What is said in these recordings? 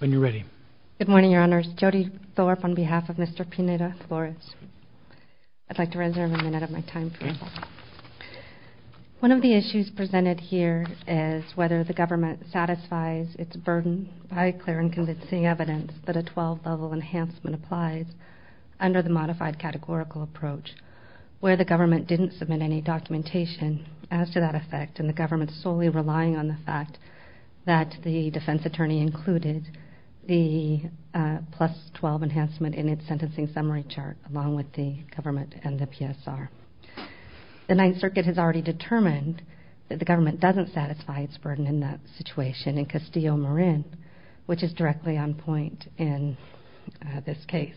One of the issues presented here is whether the government satisfies its burden by clear and convincing evidence that a 12-level enhancement applies under the Modified Categorical Approach, where the government didn't submit any documentation as to that effect and the government solely relied on the fact that the defense attorney included the plus 12 enhancement in its sentencing summary chart along with the government and the PSR. The Ninth Circuit has already determined that the government doesn't satisfy its burden in that situation in Castillo-Marin, which is directly on point in this case.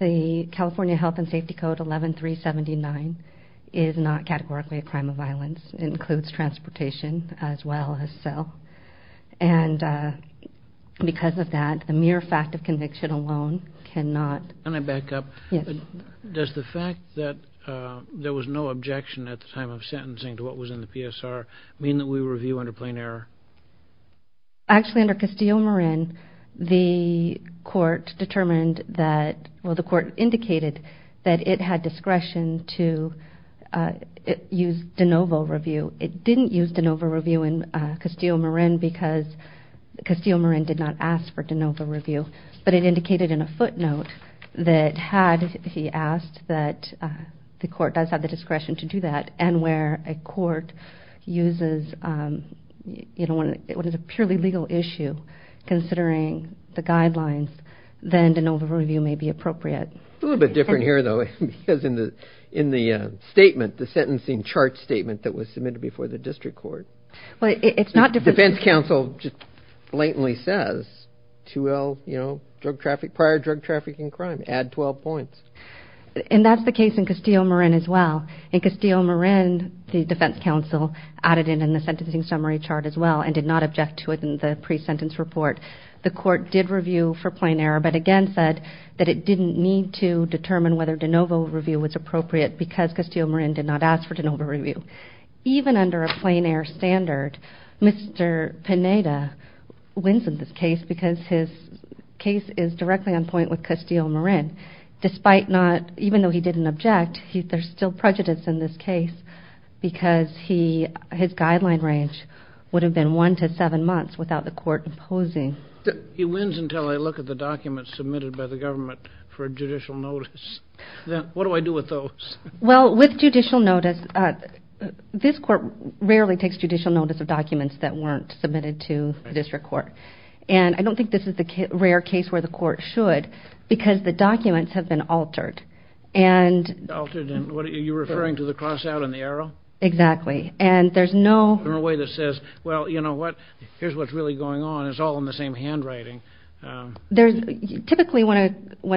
The California Health and Safety Code 11379 is not categorically a crime of violence. It includes transportation as well as cell, and because of that, the mere fact of conviction alone cannot... Can I back up? Yes. Does the fact that there was no objection at the time of sentencing to what was in the PSR mean that we review under plain error? Actually, under Castillo-Marin, the court determined that, well, the court indicated that it had discretion to use de novo review. It didn't use de novo review in Castillo-Marin because Castillo-Marin did not ask for de novo review, but it indicated in a footnote that had he asked that the court does have the discretion to do that and where a court uses, you know, when it's a purely legal issue considering the guidelines, then de novo review may be appropriate. A little bit different here, though, because in the statement, the sentencing chart statement that was submitted before the district court... Well, it's not... The defense counsel just blatantly says 2L, you know, drug traffic, prior drug trafficking crime, add 12 points. And that's the case in Castillo-Marin as well. In Castillo-Marin, the defense counsel added in the sentencing summary chart as well and did not object to it in the pre-sentence report. The court did review for plain error, but again said that it didn't need to determine whether de novo review was appropriate because Castillo-Marin did not ask for de novo review. Even under a plain error standard, Mr. Pineda wins in this case because his case is directly on point with Castillo-Marin, despite not... Even though he didn't object, there's still prejudice in this case because his guideline range would typically... When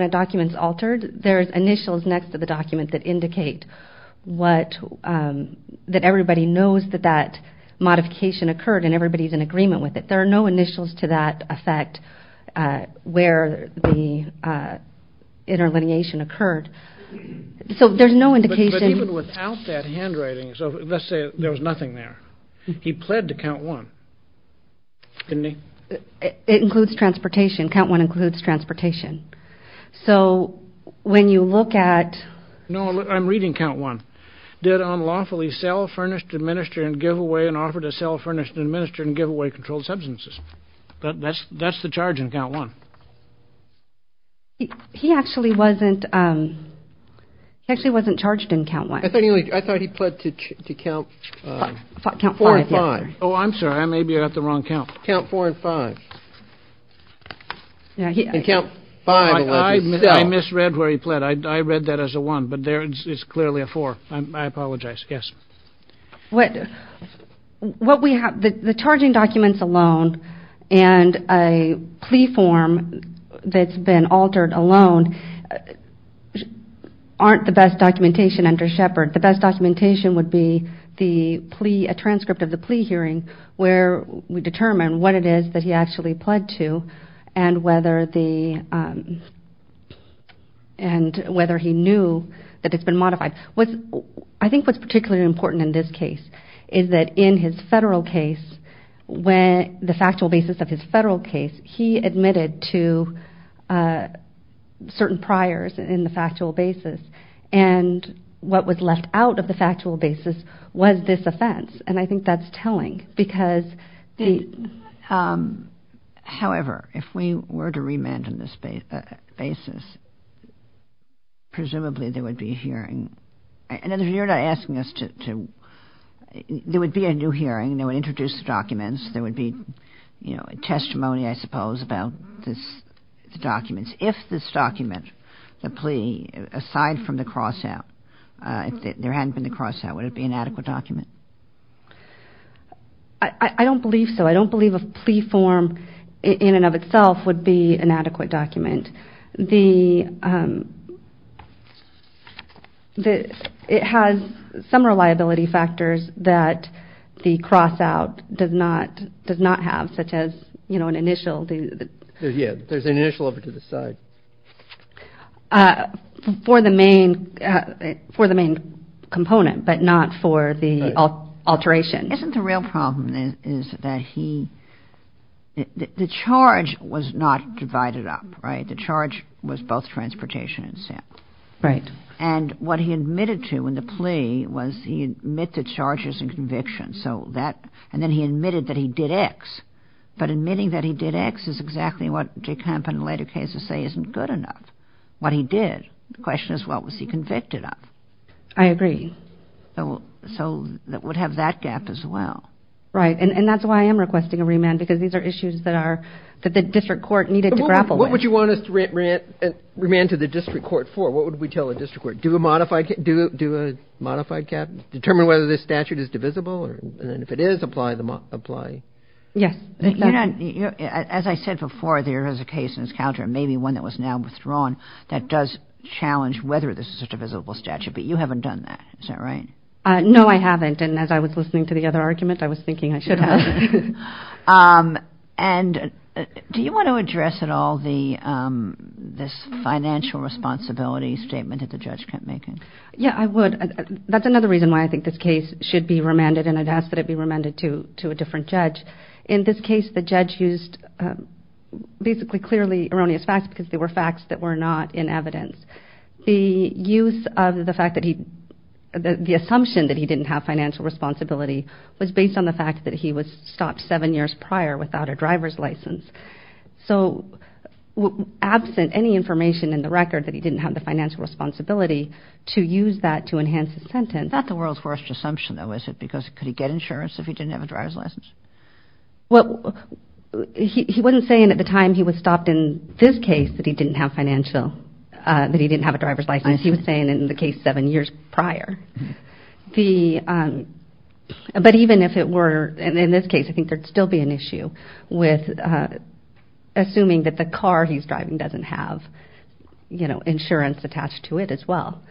a document's altered, there's initials next to the document that indicate what... That everybody knows that that modification occurred and everybody's in agreement with it. There are no initials to that effect where the interlineation occurred. So there's no indication... But even without that handwriting, so let's say there was nothing there. He pled to count one, didn't he? It includes transportation. Count one includes transportation. So when you look at... No, I'm reading count one. Did unlawfully sell, furnished, administer, and give away, and offered to sell, furnished, administer, and give away controlled substances. That's the charge in count one. He actually wasn't... He actually wasn't charged in count one. I thought he pled to count four and five. Oh, I'm sorry. I may be at the wrong count. Count four and five. And count five... I misread where he pled. I read that as a one, but there it's clearly a four. I apologize. Yes. What we have... The charging documents alone and a plea form that's been would be the plea... A transcript of the plea hearing where we determine what it is that he actually pled to and whether the... And whether he knew that it's been modified. I think what's particularly important in this case is that in his federal case, when... The factual basis of his federal case, he admitted to certain priors in the factual basis and what was left out of the factual basis was this offense. And I think that's telling because... However, if we were to remand on this basis, presumably there would be a hearing. And if you're not asking us to... There would be a new hearing. They would introduce the documents. There would be, you know, a testimony, I suppose, about this... The documents. If this document, the plea, aside from the crossout, if there hadn't been the crossout, would it be an adequate document? I don't believe so. I don't believe a plea form in and of itself would be an adequate document. The... It has some reliability factors that the crossout does not have, such as, you know, an initial... Yeah, there's an initial over to the side. For the main... For the main component, but not for the alteration. Isn't the real problem is that he... The charge was not divided up, right? The charge was both transportation and sale. Right. And what he admitted to in the plea was he admitted charges and conviction. So that... And then he admitted that he did X. But admitting that he did X is exactly what De Kamp and later cases say isn't good enough. What he did. The question is, what was he convicted of? I agree. So that would have that gap as well. Right. And that's why I am requesting a remand, because these are issues that are... That the district court needed to grapple with. What would you want us to remand to the district court for? What would we tell the district court? Do a modified cap? Determine whether this statute is divisible? And if it is, apply the... Apply. Yes. You know, as I said before, there is a case in this calendar, maybe one that was now withdrawn, that does challenge whether this is a divisible statute. But you haven't done that. Is that right? No, I haven't. And as I was listening to the other argument, I was thinking I should have. And do you want to address at all the... This financial responsibility statement that the district court has? That's another reason why I think this case should be remanded, and I'd ask that it be remanded to a different judge. In this case, the judge used basically clearly erroneous facts, because they were facts that were not in evidence. The use of the fact that he... The assumption that he didn't have financial responsibility was based on the fact that he was stopped seven years prior without a driver's license. So absent any information in the record that he didn't have the financial responsibility to use that to enhance his sentence... That's the world's worst assumption though, is it? Because could he get insurance if he didn't have a driver's license? Well, he wasn't saying at the time he was stopped in this case that he didn't have financial... That he didn't have a driver's license. He was saying in the case seven years prior. But even if it were... And in this case, I think there'd still be an issue assuming that the car he's driving doesn't have insurance attached to it as well.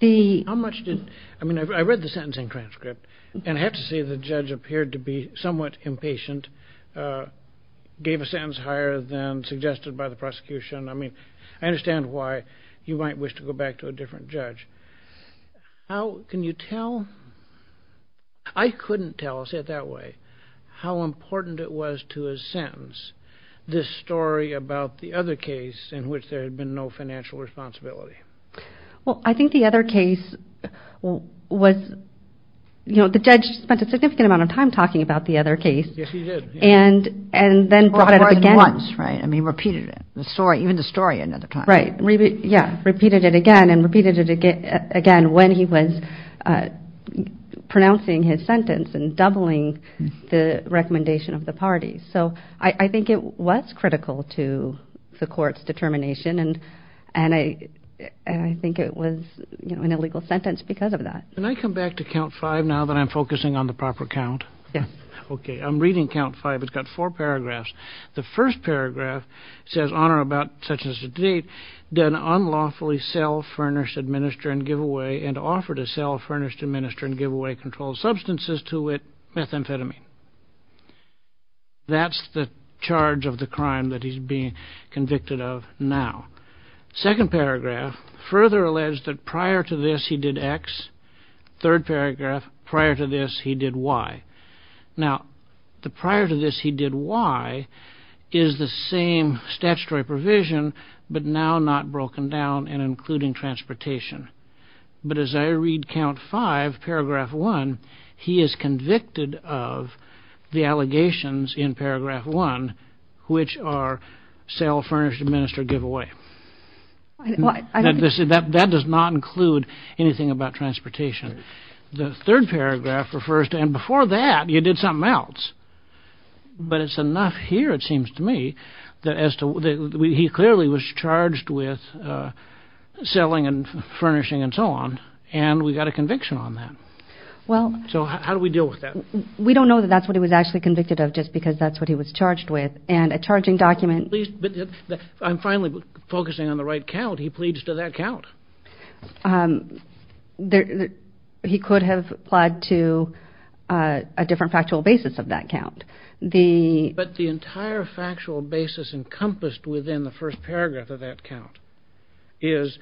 How much did... I mean, I read the sentencing transcript, and I have to say the judge appeared to be somewhat impatient, gave a sentence higher than suggested by the prosecution. I mean, I understand why you might wish to go back to a different judge. How can you tell... I couldn't tell, I'll say it that way, how important it was to a sentence this story about the other case in which there had been no financial responsibility. Well, I think the other case was... The judge spent a significant amount of time talking about the other case. Yes, he did. And then brought it up again. More than once, right? I mean, repeated it. Even the story another time. Right. Yeah. Repeated it again and repeated it again when he was pronouncing his sentence and doubling the recommendation of the parties. So I think it was critical to the court's determination, and I think it was an illegal sentence because of that. Can I come back to count five now that I'm focusing on the proper count? Yes. Okay. I'm reading count five. It's got four paragraphs. The first paragraph says, Honor about such as to date done unlawfully sell, furnish, administer, and give away, and offer to sell, furnish, administer, and give away controlled substances to it, methamphetamine. That's the charge of the crime that he's being convicted of now. Second paragraph, further alleged that prior to this, he did X. Third paragraph, prior to this, he did Y. Now, the prior to this, he did Y is the same statutory provision, but now not broken down and including transportation. But as I read count five, paragraph one, he is convicted of the allegations in paragraph one, which are sell, furnish, administer, give away. That does not include anything about transportation. The third paragraph refers to, and before that, you did something else. But it's enough here, it seems to me, that he clearly was charged with selling and furnishing and so on, and we got a conviction on that. So how do we deal with that? We don't know that that's what he was actually convicted of just because that's what he was charged with, and a charging document... I'm finally focusing on the right count. He pleads to that count. He could have applied to a different factual basis of that count. But the entire factual basis encompassed within the first paragraph of that count is...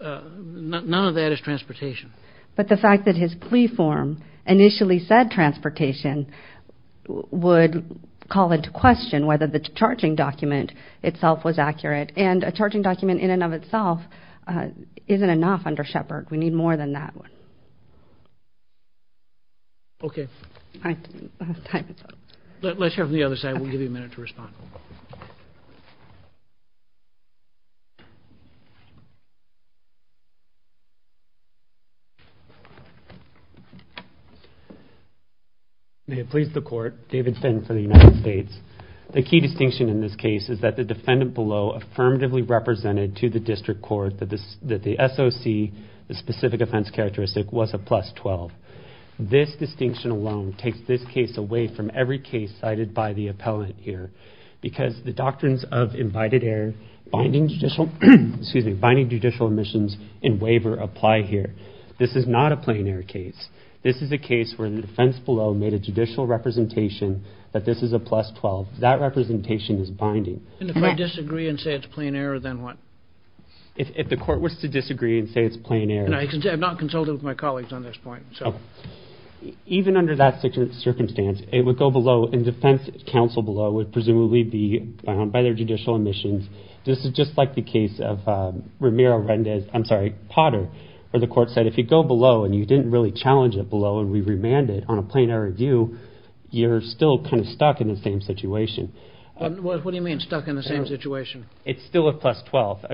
none of that is transportation. But the fact that his plea form initially said transportation would call into question whether the charging document itself was accurate, and a charging document in and of itself isn't enough under Shepard. We need more than that one. Okay. Let's hear from the other side. We'll give you a minute to respond. May it please the court, David Finn for the United States. The key distinction in this case is that the defendant below affirmatively represented to the district court that the SOC, the specific offense characteristic, was a plus 12. This distinction alone takes this case away from every case cited by the appellant here, because the doctrines of invited error, binding judicial omissions in waiver apply here. This is not a plain air case. This is a case where the defense below made a judicial representation that this is a plus 12. That representation is binding. And if I disagree and say it's a plain error, then what? If the court was to disagree and say it's a plain error. And I have not consulted with my colleagues on this point. Even under that circumstance, it would go below, and defense counsel below would presumably be bound by their judicial omissions. This is just like the case of Ramiro-Rendez, I'm sorry, Potter, where the court said if you go below and you didn't really challenge it below and we remanded it on a plain error view, you're still kind of stuck in the same situation. What do you mean stuck in the same situation? It's still a plus 12.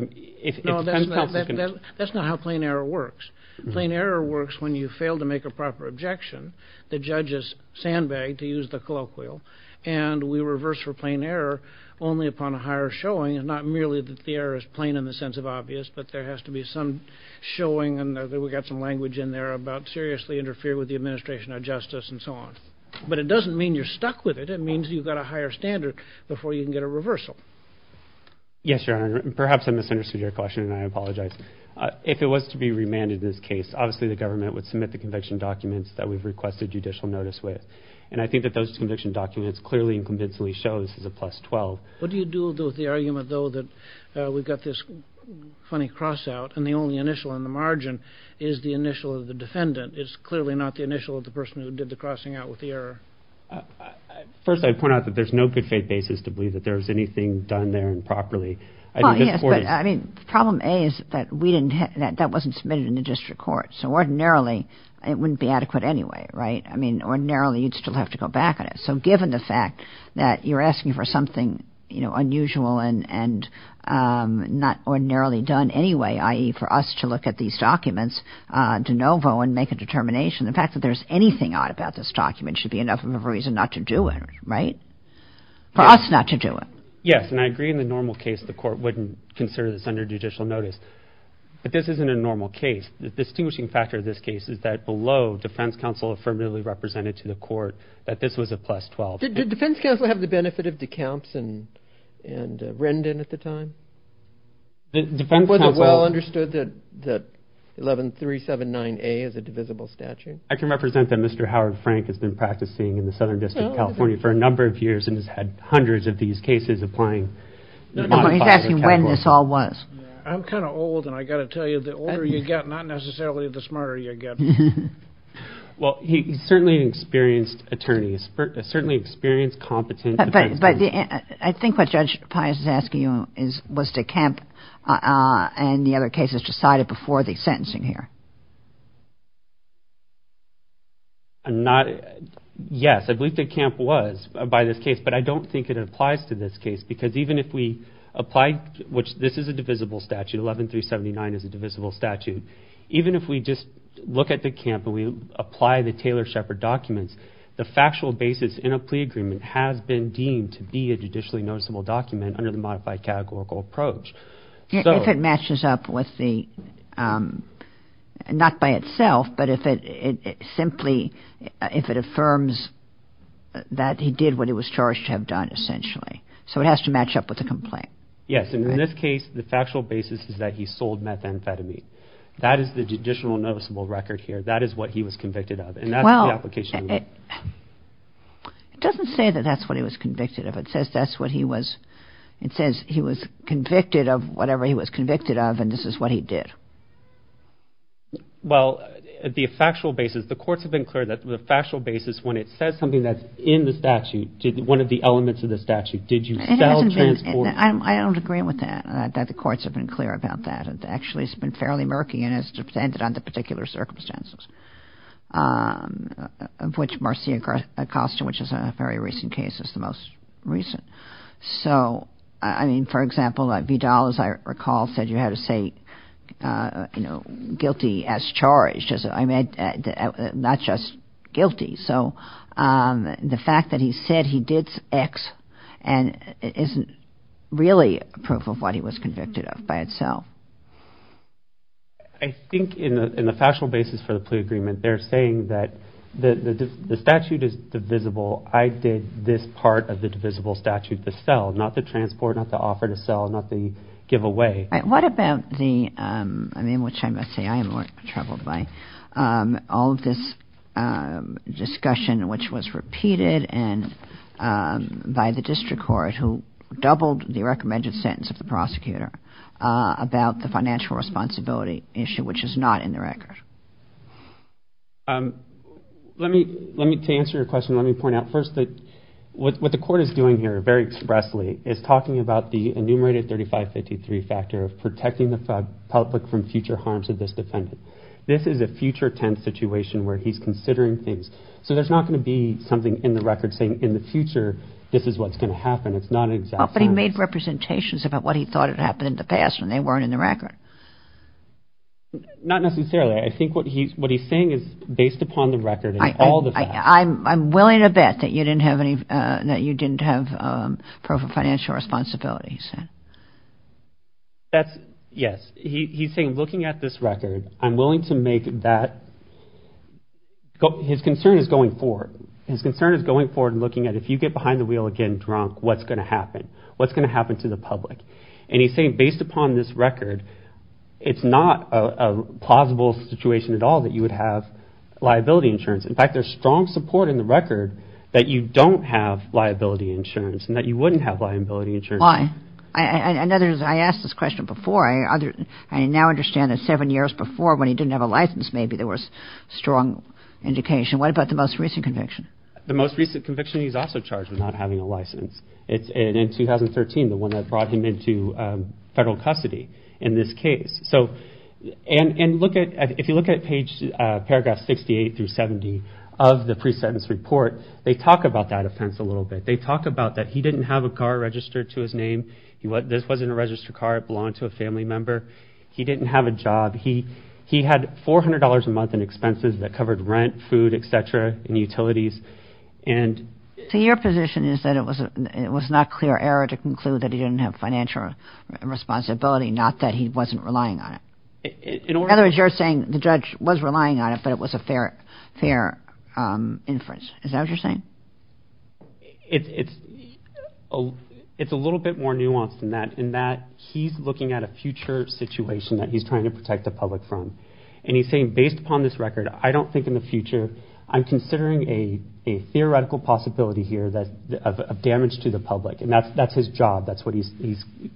No, that's not how plain error works. Plain error works when you fail to make a proper objection, the judges sandbag to use the colloquial, and we reverse for plain error only upon a higher showing and not merely that the error is plain in the sense of obvious, but there has to be some showing and we got some language in there about seriously interfere with the administration of justice and so on. But it doesn't mean you're stuck with it. It means you've got a higher standard before you can get a reversal. Yes, Your Honor, perhaps I misunderstood your question and I apologize. If it was to be remanded in this case, obviously the government would submit the conviction documents that we've requested judicial notice with, and I think that those conviction documents clearly and convincingly show this is a plus 12. What do you do with the argument, though, that we've got this funny crossout and the only initial on the margin is the initial of the defendant? It's clearly not the initial of the person who did the crossing out with the error. First, I point out that there's no good faith basis to believe that there's anything done there and properly. I mean, problem A is that we didn't have that wasn't submitted in the district court. So ordinarily it wouldn't be adequate anyway, right? I mean, ordinarily you'd still have to go back on it. So given the fact that you're asking for something unusual and not ordinarily done anyway, i.e. for us to look at these documents de novo and make a determination, the fact that there's anything odd about this document should be enough of a reason not to do it, right? For us not to do it. Yes, and I agree in the normal case the court wouldn't consider this under judicial notice, but this isn't a normal case. The distinguishing factor of this case is that below defense counsel affirmatively represented to the court that this was a plus 12. Did defense counsel have the benefit of de Camps and Rendon at the time? It wasn't well understood that 11379A is a divisible statute. I can represent that Mr. Howard Frank has been practicing in the Southern District of California for a number of years and has had hundreds of these cases applying. He's asking when this all was. I'm kind of old and I got to tell you the older you get not necessarily the smarter you get. Well, he's certainly an experienced attorney, certainly experienced, competent. I think what Judge Pius is asking you is was de Camp and the other cases decided before the sentencing here. I'm not, yes, I believe de Camp was by this case, but I don't think it applies to this case because even if we apply, which this is a divisible statute, 11379 is a divisible statute, even if we just look at de Camp and we apply the Taylor-Shepard documents, the factual basis in a plea agreement has been deemed to be a judicially noticeable document under the modified categorical approach. If it matches up with the, not by itself, but if it simply, if it affirms that he did what he was charged to have done essentially. So it has to match up with the complaint. Yes, and in this case, the factual basis is that he sold methamphetamine. That is the judicial noticeable record here. That is what he was convicted of and that's the application. It doesn't say that that's what he was convicted of. It says that's what he was, it says he was convicted of whatever he was convicted of and this is what he did. Well, the factual basis, the courts have been clear that the factual basis, when it says something that's in the statute, one of the elements of the statute, did you sell transport? I don't agree with that, that the courts have been clear about that. It actually has been fairly murky and has depended on the particular circumstances of which Marcia Acosta, which is a very recent case, is the most recent. So, I mean, for example, Vidal, as I recall, said you had to say, you know, guilty as charged, not just guilty. So the fact that he said he did X and isn't really proof of what he was convicted of by itself. I think in the factual basis for the plea agreement, they're saying that the statute is divisible. I did this part of the divisible statute to sell, not the transport, not the offer to sell, not the giveaway. What about the, I mean, which I must say I am more troubled by all of this discussion, which was repeated and by the district court who doubled the recommended sentence of the financial responsibility issue, which is not in the record. Let me, to answer your question, let me point out first that what the court is doing here very expressly is talking about the enumerated 3553 factor of protecting the public from future harms of this defendant. This is a future tense situation where he's considering things. So there's not going to be something in the record saying in the future, this is what's going to happen. It's not an exact sentence. But he made representations about what he thought had happened in the past, and they weren't in the record. Not necessarily. I think what he's, what he's saying is based upon the record and all the facts. I'm willing to bet that you didn't have any, that you didn't have proof of financial responsibility, he said. That's, yes, he's saying looking at this record, I'm willing to make that, his concern is going forward. His concern is going forward and looking at if you get behind the wheel again drunk, what's going to happen? What's going to happen to the public? And he's saying based upon this record, it's not a plausible situation at all that you would have liability insurance. In fact, there's strong support in the record that you don't have liability insurance and that you wouldn't have liability insurance. Why? In other words, I asked this question before. I now understand that seven years before when he didn't have a license, maybe there was strong indication. What about the most recent conviction? The most recent conviction, he's also charged with not having a license. It's in 2013, the one that brought him into federal custody in this case. So, and look at, if you look at paragraph 68 through 70 of the pre-sentence report, they talk about that offense a little bit. They talk about that he didn't have a car registered to his name. This wasn't a registered car. It belonged to a family member. He didn't have a job. He had $400 a month in expenses that covered rent, food, et cetera, and utilities. And... So, your position is that it was not clear error to conclude that he didn't have financial responsibility, not that he wasn't relying on it. In other words, you're saying the judge was relying on it, but it was a fair inference. Is that what you're saying? It's a little bit more nuanced than that, in that he's looking at a future situation that he's trying to protect the public from. And he's saying, based upon this record, I don't think in the future I'm considering a theoretical possibility here of damage to the public. And that's his job. That's what he's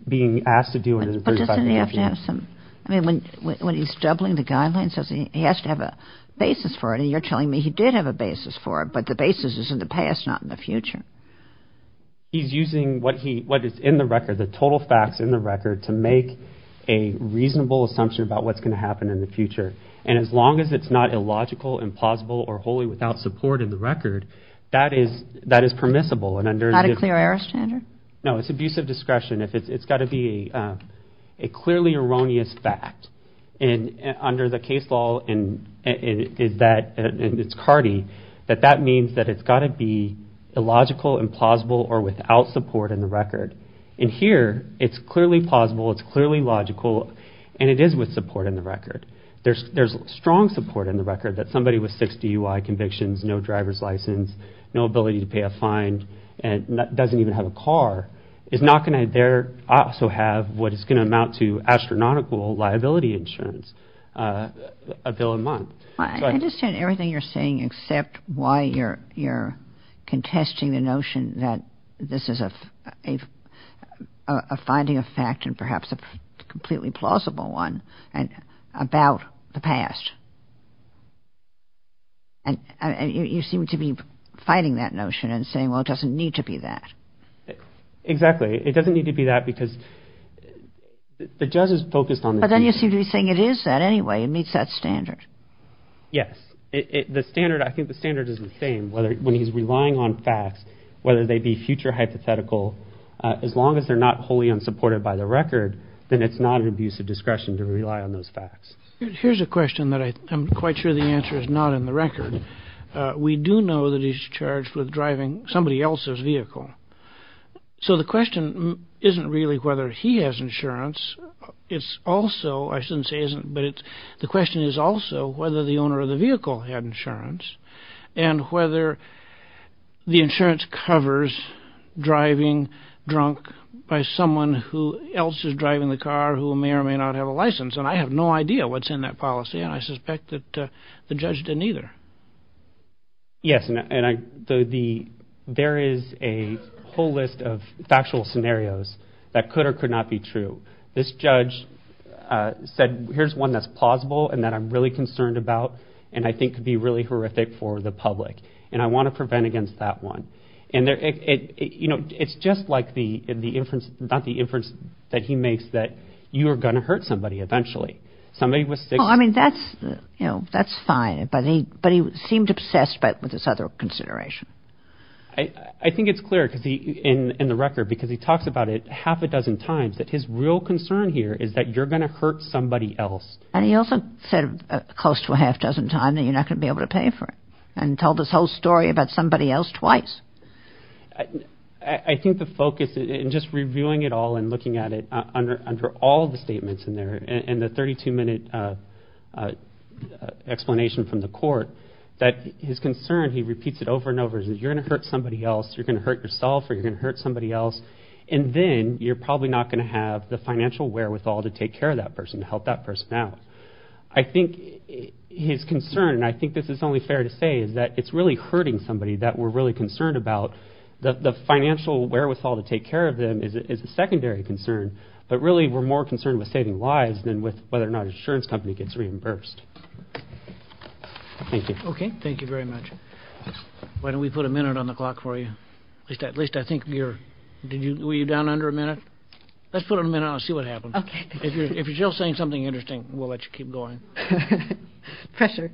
being asked to do. But doesn't he have to have some... I mean, when he's doubling the guidelines, he has to have a basis for it. And you're telling me he did have a basis for it. But the basis is in the past, not in the future. He's using what is in the record, the total facts in the record, to make a reasonable assumption about what's going to happen in the future. And as long as it's not illogical, implausible, or wholly without support in the record, that is permissible. And under... Not a clear error standard? No, it's abusive discretion. It's got to be a clearly erroneous fact. And under the case law, and it's CARDI, that means that it's got to be illogical, implausible, or without support in the record. And here, it's clearly plausible, it's clearly logical, and it is with support in the record. There's strong support in the record that somebody with 60 UI convictions, no driver's license, no ability to pay a fine, and doesn't even have a car, is not going to dare also have what is going to amount to astronomical liability insurance, a bill a month. I understand everything you're saying, except why you're contesting the notion that this is a finding of fact and perhaps a completely plausible one about the past. And you seem to be fighting that notion and saying, well, it doesn't need to be that. Exactly. It doesn't need to be that because the judge is focused on... But then you seem to be saying it is that anyway, it meets that standard. Yes, the standard, I think the standard is the same, whether when he's relying on facts, whether they be future hypothetical, as long as they're not wholly unsupported by the record, then it's not an abuse of discretion to rely on those facts. Here's a question that I'm quite sure the answer is not in the record. We do know that he's charged with driving somebody else's vehicle. So the question isn't really whether he has insurance. It's also, I shouldn't say isn't, but the question is also whether the owner of the covers driving drunk by someone who else is driving the car who may or may not have a license. And I have no idea what's in that policy. And I suspect that the judge didn't either. Yes, and there is a whole list of factual scenarios that could or could not be true. This judge said, here's one that's plausible and that I'm really concerned about and I think could be really horrific for the public. And I want to prevent against that one. And it's just like the inference that he makes that you are going to hurt somebody eventually. I mean, that's, you know, that's fine. But he seemed obsessed with this other consideration. I think it's clear in the record, because he talks about it half a dozen times, that his real concern here is that you're going to hurt somebody else. And he also said close to a half dozen times that you're not going to be able to pay for it and tell this whole story about somebody else twice. I think the focus in just reviewing it all and looking at it under all the statements in there and the 32 minute explanation from the court, that his concern, he repeats it over and over, is that you're going to hurt somebody else, you're going to hurt yourself, or you're going to hurt somebody else. And then you're probably not going to have the financial wherewithal to take care of that person to help that person out. I think his concern, and I think this is only fair to say, is that it's really hurting somebody that we're really concerned about. The financial wherewithal to take care of them is a secondary concern. But really, we're more concerned with saving lives than with whether or not insurance company gets reimbursed. Thank you. Okay, thank you very much. Why don't we put a minute on the clock for you? At least I think you're, were you down under a minute? Let's put a minute on and see what happens. Okay. If you're still saying something interesting, we'll let you keep going. Pressure.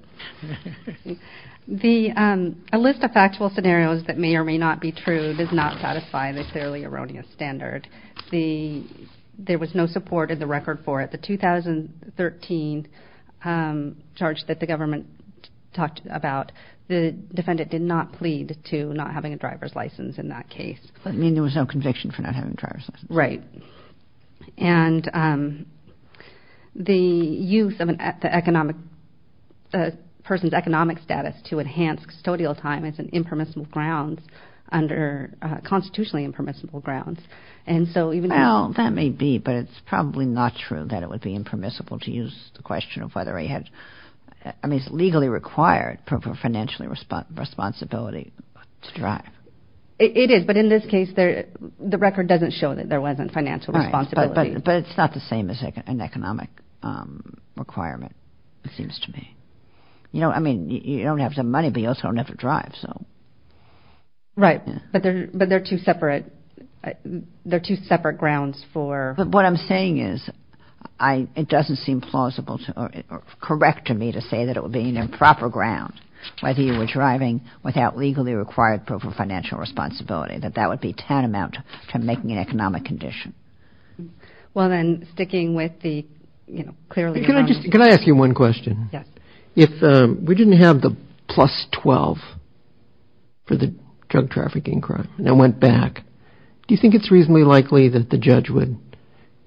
A list of factual scenarios that may or may not be true does not satisfy the fairly erroneous standard. There was no support in the record for it. The 2013 charge that the government talked about, the defendant did not plead to not having a driver's license in that case. You mean there was no conviction for not having a driver's license? Right. And the use of the economic, the person's economic status to enhance custodial time as an impermissible grounds under constitutionally impermissible grounds. And so even though... Well, that may be, but it's probably not true that it would be impermissible to use the question of whether he had, I mean, it's legally required for financial responsibility to drive. It is, but in this case, the record doesn't show that there wasn't financial responsibility. But it's not the same as an economic requirement, it seems to me. You know, I mean, you don't have the money, but you also don't have to drive. Right, but they're two separate grounds for... But what I'm saying is, it doesn't seem plausible or correct to me to say that it would be an improper ground, whether you were driving without legally required proof of financial responsibility, that that would be tantamount to making an economic condition. Well, then sticking with the, you know, clearly... Can I just, can I ask you one question? Yes. If we didn't have the plus 12 for the drug trafficking crime and it went back, do you think it's reasonably likely that the judge would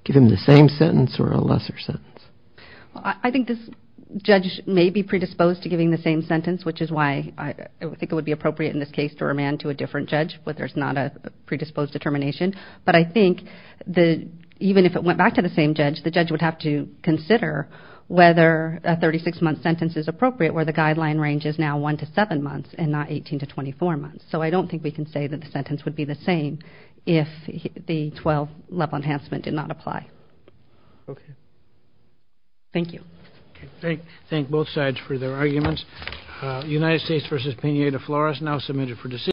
give him the same sentence or a lesser sentence? I think this judge may be predisposed to giving the same sentence, which is why I think it would be appropriate in this case to remand to a different judge where there's not a predisposed determination. But I think that even if it went back to the same judge, the judge would have to consider whether a 36-month sentence is appropriate, where the guideline range is now one to seven months and not 18 to 24 months. So I don't think we can say that the sentence would be the same if the 12-level enhancement did not apply. Okay. Thank you. Thank both sides for their arguments. United States versus Peña de Flores, now submitted for decision.